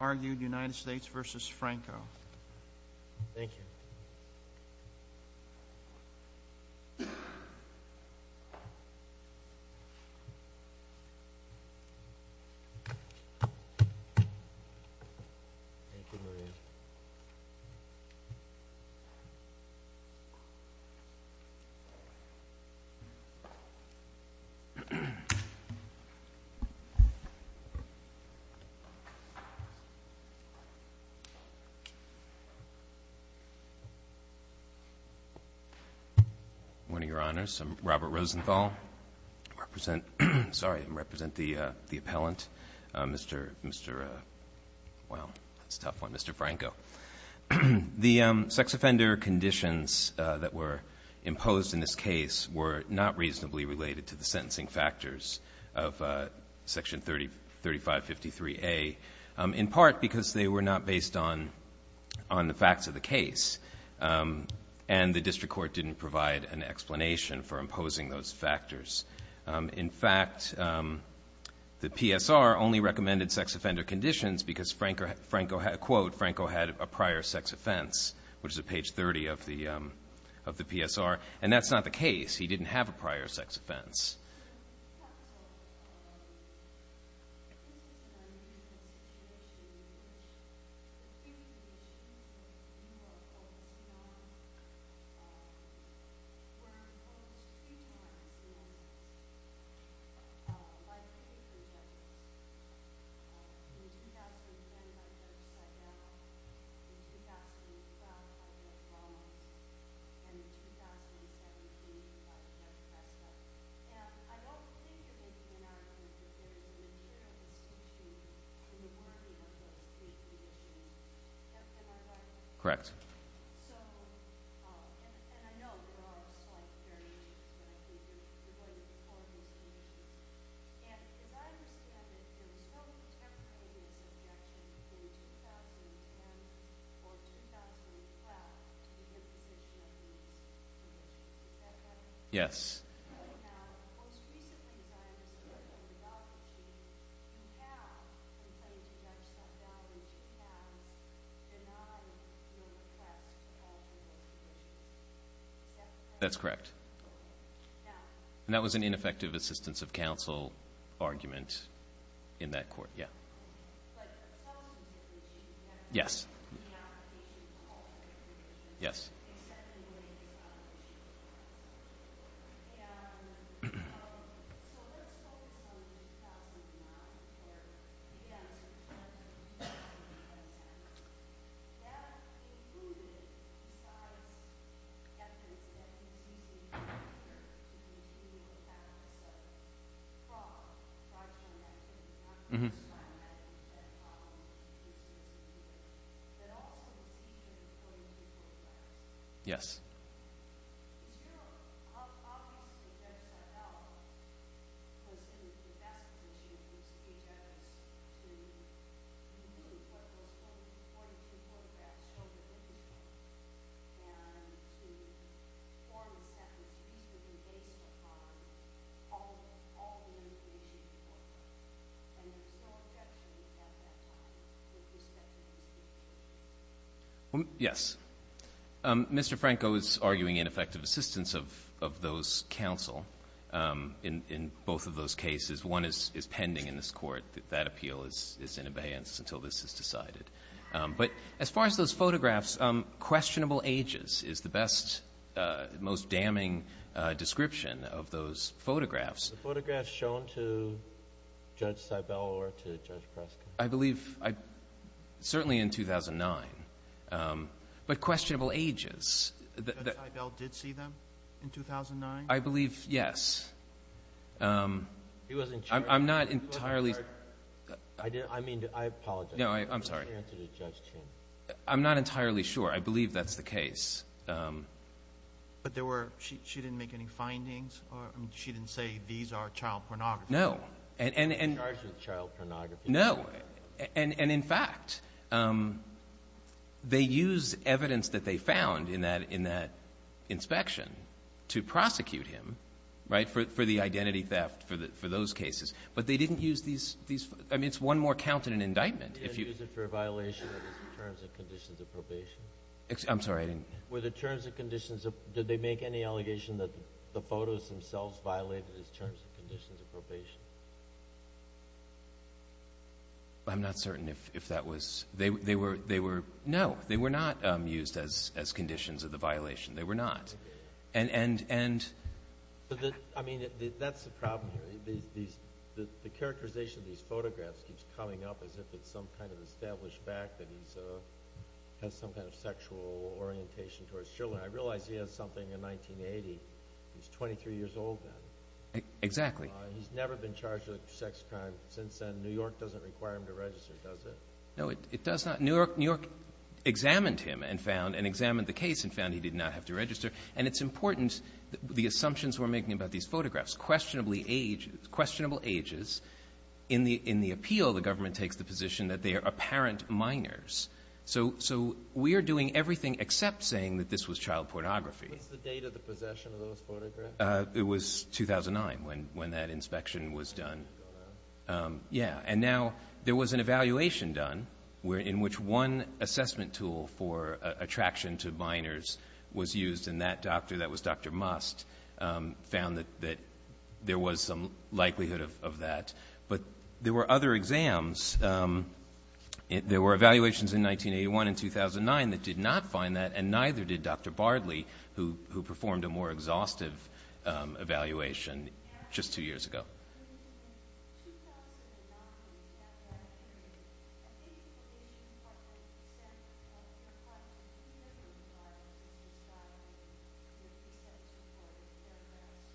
argued United States v. Franco. One of your honors, I'm Robert Rosenthal. I represent the appellant, Mr. Franco. The sex offender conditions that were imposed in this case were not reasonably related to the sentencing factors of Section 3553A, in part because they were not based on the facts of the case, and the district court didn't provide an explanation for imposing those factors. In fact, the PSR only recommended sex offender conditions because, quote, Franco had a prior sex offense, which is at page 30 of the PSR. And that's not the case. He didn't have a prior sex offense. And I don't think you're making an argument that there is a material distinction in the wording of those three conditions. Am I right? Correct. So, and I know there are slight variations, but I think you're going to call those conditions. And as I understand it, there was no contemporaneous objection in 2010 or 2012 to the imposition of these conditions. Is that correct? Yes. Now, most recently, as I understand it, under Dr. Chief, you have complained to Judge Saldana that she has denied your request to call for those conditions. Is that correct? That's correct. Now— And that was an ineffective assistance of counsel argument in that court, yeah. But substance of the Chief never— Yes. Yes. Yes. Yes. Mr. Franco is arguing ineffective assistance of those counsel in both of those cases. One is pending in this Court. That appeal is in abeyance until this is decided. But as far as those photographs, questionable ages is the best, most damning description of those photographs. The photographs shown to Judge Seibel or to Judge Preskin? I believe certainly in 2009, but questionable ages. Judge Seibel did see them in 2009? I believe, yes. He wasn't sure. I'm not entirely— I mean, I apologize. No, I'm sorry. Answer to Judge Chin. I'm not entirely sure. I believe that's the case. But there were—she didn't make any findings? She didn't say these are child pornography? No. And— She's charged with child pornography. No. And in fact, they use evidence that they found in that inspection to prosecute him, right, for the identity theft for those cases. But they didn't use these—I mean, it's one more count in an indictment. They didn't use it for a violation of his terms and conditions of probation? I'm sorry, I didn't— Were the terms and conditions—did they make any allegation that the photos themselves violated his terms and conditions of probation? I'm not certain if that was—they were—no, they were not used as conditions of the violation. They were not. And— I mean, that's the problem here. The characterization of these photographs keeps coming up as if it's some kind of established fact that he has some kind of sexual orientation towards children. I realize he has something in 1980. He's 23 years old then. Exactly. He's never been charged with sex crime since then. New York doesn't require him to register, does it? No, it does not. New York examined him and found—and examined the case and found he did not have to register. And it's important, the assumptions we're making about these photographs, questionably age—questionable ages. In the appeal, the government takes the position that they are apparent minors. So we are doing everything except saying that this was child pornography. What's the date of the possession of those photographs? It was 2009 when that inspection was done. Yeah. And now there was an evaluation done in which one assessment tool for attraction to minors was used, and that doctor—that was Dr. Must—found that there was some likelihood of that. But there were other exams. There were evaluations in 1981 and 2009 that did not find that, and neither did Dr. Bardley, who performed a more exhaustive evaluation just two years ago. I mean, in the 2007 document, you have that. I think the Nation Department sent photographs of two different types of misdiagnosis that he sent to court, paragraphs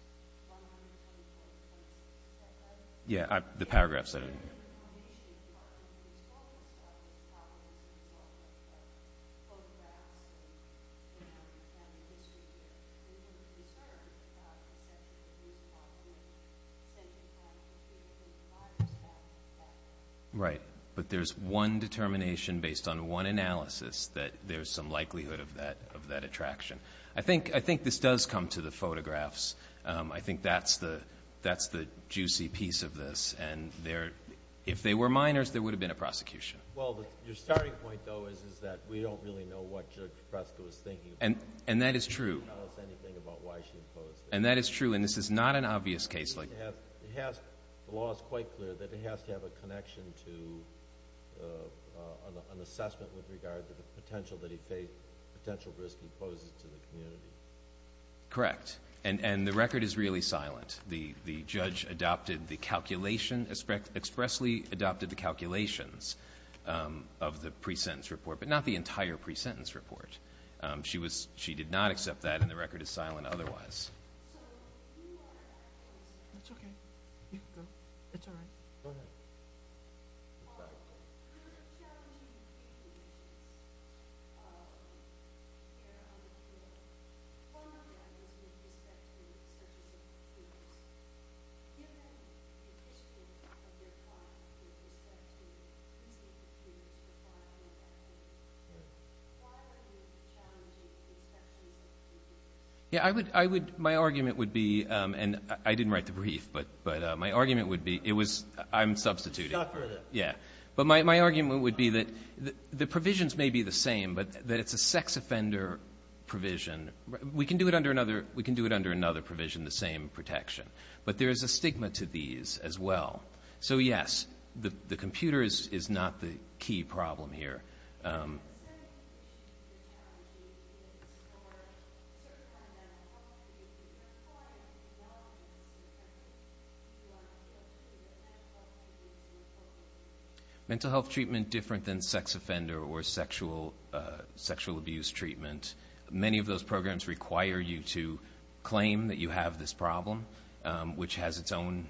124 and 26. Is that right? Yeah, I—the paragraphs, I don't— Right. But there's one determination based on one analysis that there's some likelihood of that attraction. I think this does come to the photographs. I think that's the juicy piece of this. And if they were minors, there would have been a prosecution. Well, your starting point, though, is that we don't really know what Judge Fresco is thinking. And that is true. Can you tell us anything about why she imposed it? And that is true, and this is not an obvious case. The law is quite clear that it has to have a connection to an assessment with regard to the potential risk he poses to the community. Correct. And the record is really silent. The judge expressly adopted the calculations of the pre-sentence report, but not the entire pre-sentence report. She did not accept that, and the record is silent otherwise. So you are— That's okay. You can go. It's all right. Go ahead. Go back. There's a challenging opinion here on the appeal. One of them is with respect to the searches of the accused. Given the position of your client with respect to these accused, the filing of that case, why are you challenging the inspections of the accused? Yeah, I would—my argument would be—and I didn't write the brief, but my argument would be it was—I'm substituting. Shot further. Yeah. But my argument would be that the provisions may be the same, but that it's a sex offender provision. We can do it under another provision, the same protection. But there is a stigma to these as well. So, yes, the computer is not the key problem here. And the second issue that you're challenging is for a certain kind of mental health treatment. If your client is involved in this treatment, do you want to deal with the treatment as well, or do you do it separately? Mental health treatment different than sex offender or sexual abuse treatment. Many of those programs require you to claim that you have this problem, which has its own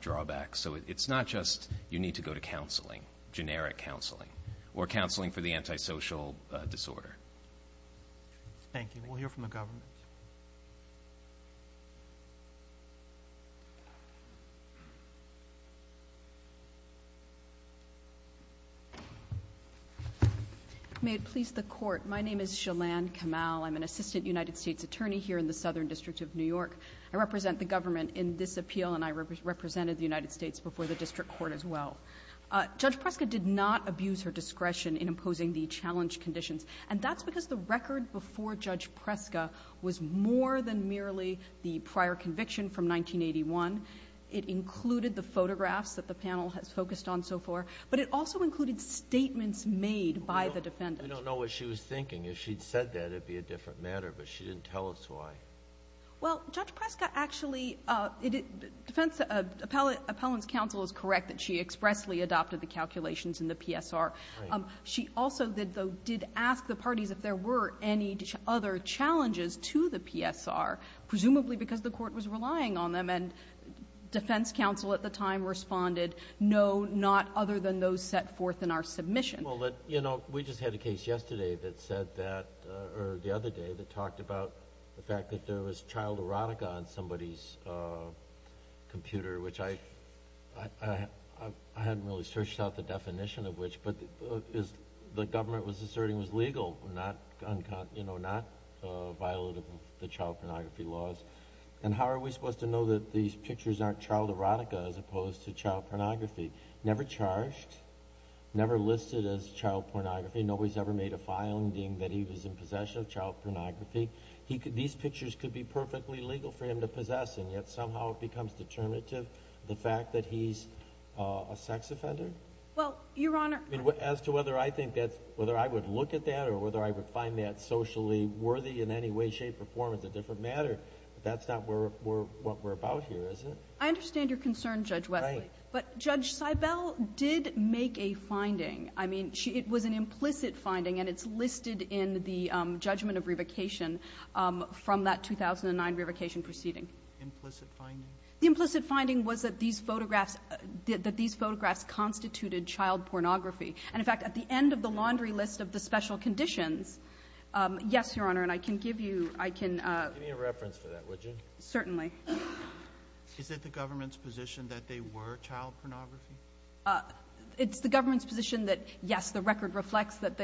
drawbacks. So it's not just you need to go to counseling, generic counseling, or counseling for the antisocial disorder. Thank you. We'll hear from the government. May it please the Court. My name is Shalan Kamal. I'm an assistant United States attorney here in the Southern District of New York. I represent the government in this appeal, and I represented the United States before the district court as well. Judge Preska did not abuse her discretion in imposing the challenge conditions, and that's because the record before Judge Preska was more than merely the prior conviction from 1981. It included the photographs that the panel has focused on so far, but it also included statements made by the defendant. We don't know what she was thinking. If she had said that, it would be a different matter, but she didn't tell us why. Well, Judge Preska actually, defense, appellant's counsel is correct that she expressly adopted the calculations in the PSR. She also did ask the parties if there were any other challenges to the PSR, presumably because the court was relying on them, and defense counsel at the time responded, no, not other than those set forth in our submission. Well, you know, we just had a case yesterday that said that, or the other day, that talked about the fact that there was child erotica on somebody's computer, which I hadn't really searched out the definition of which, but the government was asserting was legal, not, you know, not violent of the child pornography laws. And how are we supposed to know that these pictures aren't child erotica as opposed to child pornography? Never charged, never listed as child pornography, nobody's ever made a filing deeming that he was in possession of child pornography. These pictures could be perfectly legal for him to possess, and yet somehow it becomes determinative, the fact that he's a sex offender? Well, Your Honor. As to whether I think that's, whether I would look at that or whether I would find that socially worthy in any way, shape, or form, it's a different matter. That's not what we're about here, is it? I understand your concern, Judge Wesley. Right. But Judge Seibel did make a finding. I mean, it was an implicit finding, and it's listed in the judgment of revocation from that 2009 revocation proceeding. Implicit finding? The implicit finding was that these photographs, that these photographs constituted child pornography. And, in fact, at the end of the laundry list of the special conditions, yes, Your Honor, and I can give you, I can. Give me a reference for that, would you? Certainly. Is it the government's position that they were child pornography? It's the government's position that, yes, the record reflects that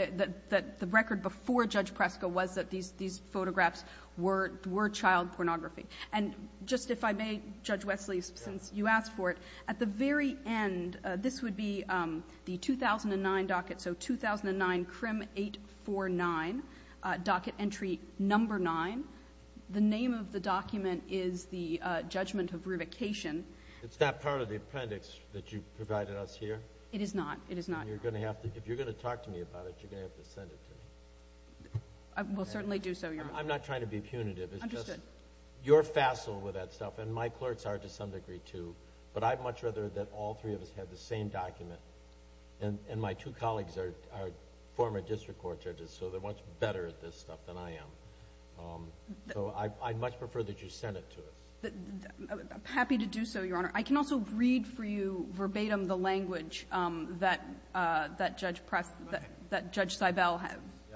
the record before Judge Presco was that these photographs were child pornography. And just if I may, Judge Wesley, since you asked for it, at the very end, this would be the 2009 docket, so 2009 CRIM 849, docket entry number 9. The name of the document is the judgment of revocation. It's that part of the appendix that you provided us here? It is not. It is not, Your Honor. If you're going to talk to me about it, you're going to have to send it to me. We'll certainly do so, Your Honor. I'm not trying to be punitive. Understood. It's just you're facile with that stuff, and my clerks are to some degree too, but I'd much rather that all three of us had the same document. And my two colleagues are former district court judges, so they're much better at this stuff than I am. So I'd much prefer that you send it to us. I'm happy to do so, Your Honor. I can also read for you verbatim the language that Judge Press, that Judge Seibel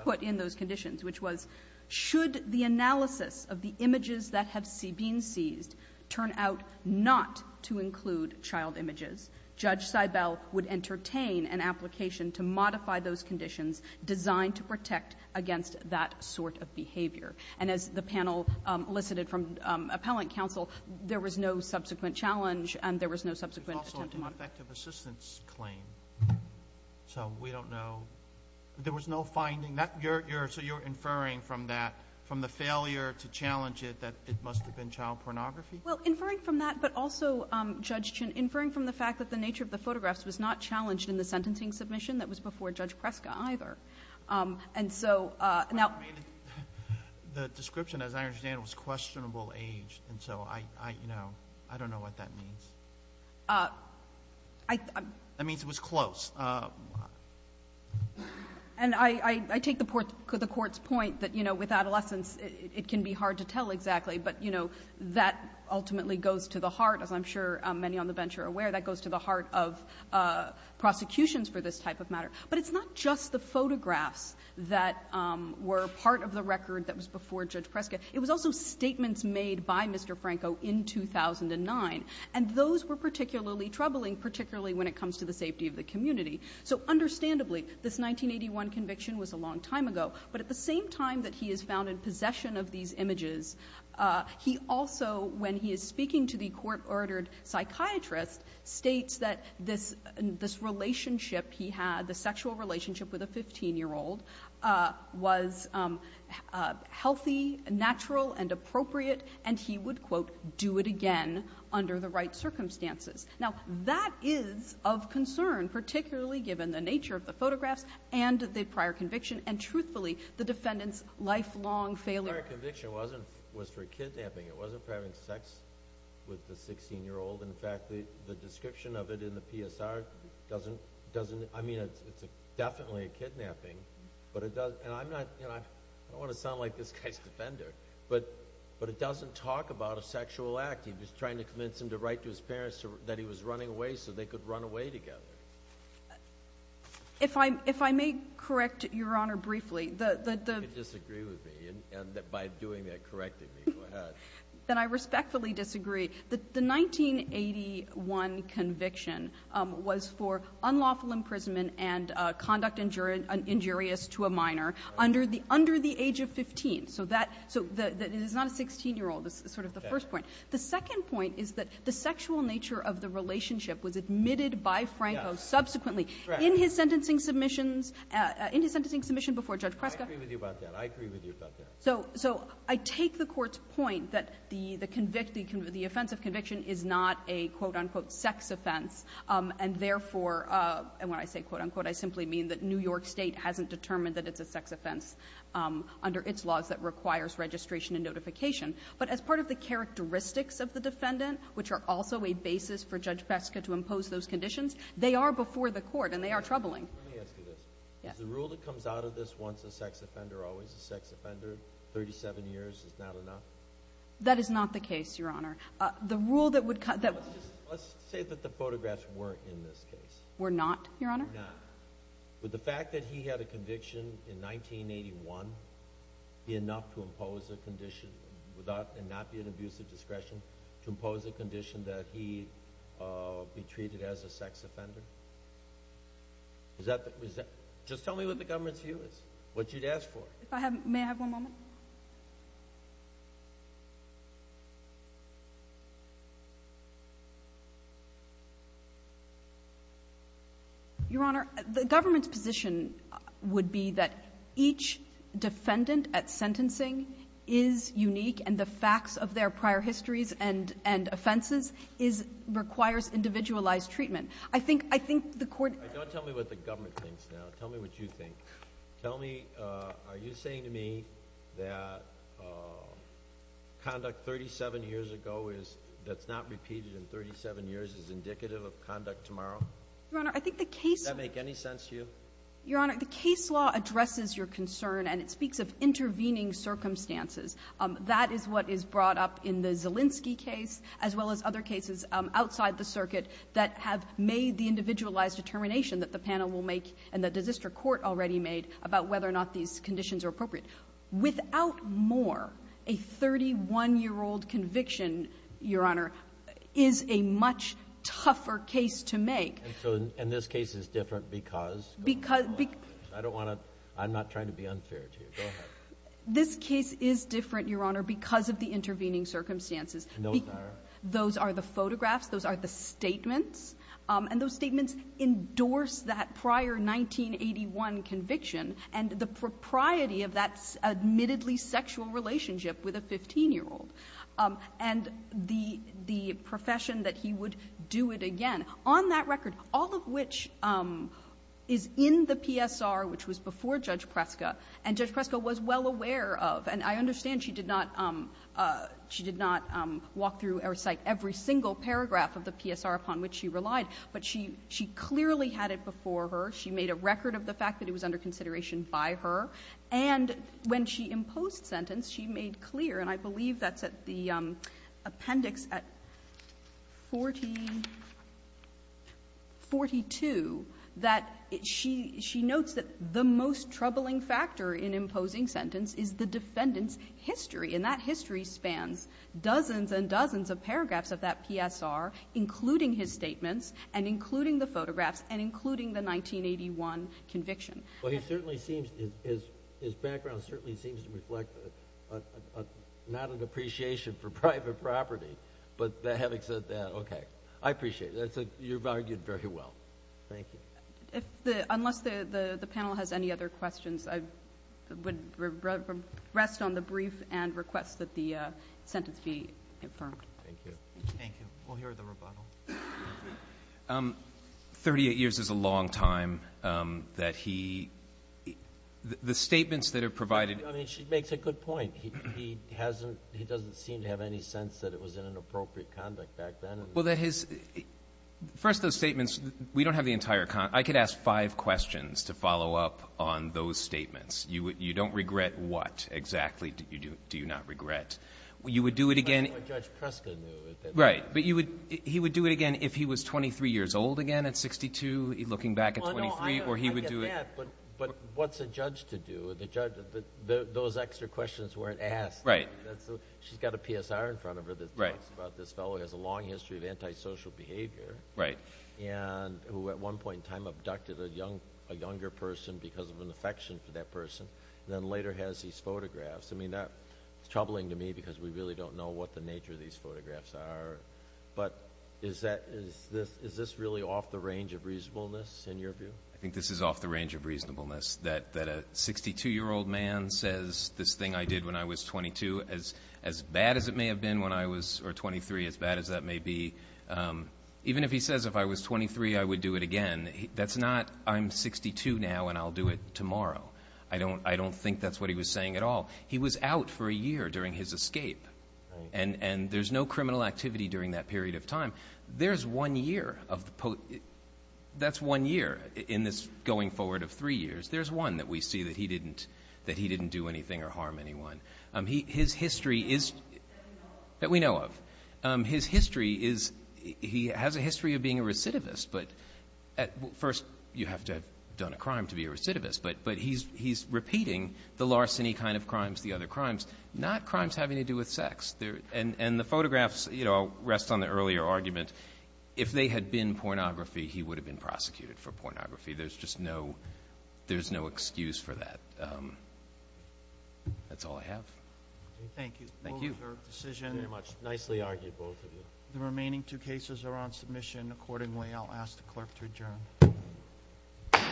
put in those conditions, which was, should the analysis of the images that have been seized turn out not to include child images, Judge Seibel would entertain an application to modify those conditions designed to protect against that sort of behavior. And as the panel elicited from appellant counsel, there was no subsequent challenge and there was no subsequent attempt to modify. It's also an effective assistance claim. So we don't know. There was no finding. So you're inferring from that, from the failure to challenge it, that it must have been child pornography? Well, inferring from that, but also, Judge Chin, inferring from the fact that the nature of the photographs was not challenged in the sentencing submission that was before Judge Preska either. The description, as I understand it, was questionable age. And so I don't know what that means. That means it was close. And I take the Court's point that, you know, with adolescents, it can be hard to tell exactly. But, you know, that ultimately goes to the heart, as I'm sure many on the bench are aware, that goes to the heart of prosecutions for this type of matter. But it's not just the photographs that were part of the record that was before Judge Preska. It was also statements made by Mr. Franco in 2009. And those were particularly troubling, particularly when it comes to the safety of the community. So understandably, this 1981 conviction was a long time ago. But at the same time that he is found in possession of these images, he also, when he is speaking to the court-ordered psychiatrist, states that this relationship he had, the sexual relationship with a 15-year-old, was healthy, natural, and appropriate, and he would, quote, do it again under the right circumstances. Now, that is of concern, particularly given the nature of the photographs and the prior conviction and, truthfully, the defendant's lifelong failure. The prior conviction wasn't for kidnapping. It wasn't for having sex with the 16-year-old. In fact, the description of it in the PSR doesn't – I mean, it's definitely a kidnapping, but it doesn't – and I'm not – I don't want to sound like this guy's defender, but it doesn't talk about a sexual act. He was trying to convince him to write to his parents that he was running away so they could run away together. If I may correct, Your Honor, briefly, the – If you disagree with me, and by doing that, correcting me, go ahead. Then I respectfully disagree. The 1981 conviction was for unlawful imprisonment and conduct injurious to a minor under the age of 15. So that – so it is not a 16-year-old. That's sort of the first point. The second point is that the sexual nature of the relationship was admitted by Franco subsequently in his sentencing submissions – in his sentencing submission before Judge Preska. I agree with you about that. I agree with you about that. So I take the Court's point that the convict – the offense of conviction is not a, quote-unquote, sex offense, and therefore – and when I say, quote-unquote, I simply mean that New York State hasn't determined that it's a sex offense under its laws that requires registration and notification. But as part of the characteristics of the defendant, which are also a basis for Judge Preska to impose those conditions, they are before the Court, and they are troubling. Let me ask you this. Yes. Is the rule that comes out of this, once a sex offender, always a sex offender, 37 years is not enough? That is not the case, Your Honor. The rule that would – Let's say that the photographs weren't in this case. Were not, Your Honor? Were not. Would the fact that he had a conviction in 1981 be enough to impose a condition without – and not be an abuse of discretion to impose a condition that he be treated as a sex offender? Is that – just tell me what the government's view is, what you'd ask for. If I have – may I have one moment? Your Honor, the government's position would be that each defendant at sentencing is unique, and the facts of their prior histories and offenses is – requires individualized treatment. I think – I think the Court – Don't tell me what the government thinks now. Tell me what you think. Tell me – are you saying to me that conduct 37 years ago is – that's not repeated in 37 years is indicative of conduct tomorrow? Your Honor, I think the case – Does that make any sense to you? Your Honor, the case law addresses your concern, and it speaks of intervening circumstances. That is what is brought up in the Zielinski case, as well as other cases outside the circuit that have made the individualized determination that the panel will make and that the district court already made about whether or not these conditions are appropriate. Without more, a 31-year-old conviction, Your Honor, is a much tougher case to make. And so – and this case is different because? Because – because – I don't want to – I'm not trying to be unfair to you. Go ahead. This case is different, Your Honor, because of the intervening circumstances. And those are? Those are the photographs. Those are the statements. And those statements endorse that prior 1981 conviction and the propriety of that admittedly sexual relationship with a 15-year-old, and the – the profession that he would do it again, on that record, all of which is in the PSR, which was before Judge Preska, and Judge Preska was well aware of. And I understand she did not – she did not walk through or cite every single paragraph of the PSR upon which she relied, but she clearly had it before her. She made a record of the fact that it was under consideration by her. And when she imposed sentence, she made clear, and I believe that's at the appendix at 40 – 42, that she notes that the most troubling factor in imposing sentence is the defendant's history, and that history spans dozens and dozens of paragraphs of that PSR, including his statements, and including the photographs, and including the 1981 conviction. Well, he certainly seems – his background certainly seems to reflect not an appreciation for private property, but having said that, okay. I appreciate it. You've argued very well. Thank you. If the – unless the panel has any other questions, I would rest on the brief and request that the sentence be confirmed. Thank you. Thank you. We'll hear the rebuttal. Thirty-eight years is a long time that he – the statements that are provided. I mean, she makes a good point. He hasn't – he doesn't seem to have any sense that it was in an appropriate conduct back then. Well, that his – first, those statements, we don't have the entire – I could ask five questions to follow up on those statements. You don't regret what, exactly, do you not regret? You would do it again. That's what Judge Preska knew. Right. But you would – he would do it again if he was 23 years old again at 62, looking back at 23, or he would do it. I get that, but what's a judge to do? The judge – those extra questions weren't asked. Right. She's got a PSR in front of her that talks about this fellow. He has a long history of antisocial behavior. Right. And who at one point in time abducted a younger person because of an affection for that person and then later has these photographs. I mean, that's troubling to me because we really don't know what the nature of these photographs are. But is that – is this really off the range of reasonableness in your view? I think this is off the range of reasonableness, that a 62-year-old man says this thing I did when I was 22. As bad as it may have been when I was – or 23, as bad as that may be. Even if he says if I was 23 I would do it again, that's not I'm 62 now and I'll do it tomorrow. I don't think that's what he was saying at all. He was out for a year during his escape. Right. And there's no criminal activity during that period of time. There's one year of the – that's one year in this going forward of three years. There's one that we see that he didn't do anything or harm anyone. His history is – that we know of. His history is – he has a history of being a recidivist. But at first you have to have done a crime to be a recidivist. But he's repeating the larceny kind of crimes, the other crimes, not crimes having to do with sex. And the photographs, you know, rest on the earlier argument, if they had been pornography he would have been prosecuted for pornography. There's just no – there's no excuse for that. And that's all I have. Thank you. Thank you. Very much. Nicely argued, both of you. The remaining two cases are on submission. Accordingly, I'll ask the clerk to adjourn. Okay, adjourned.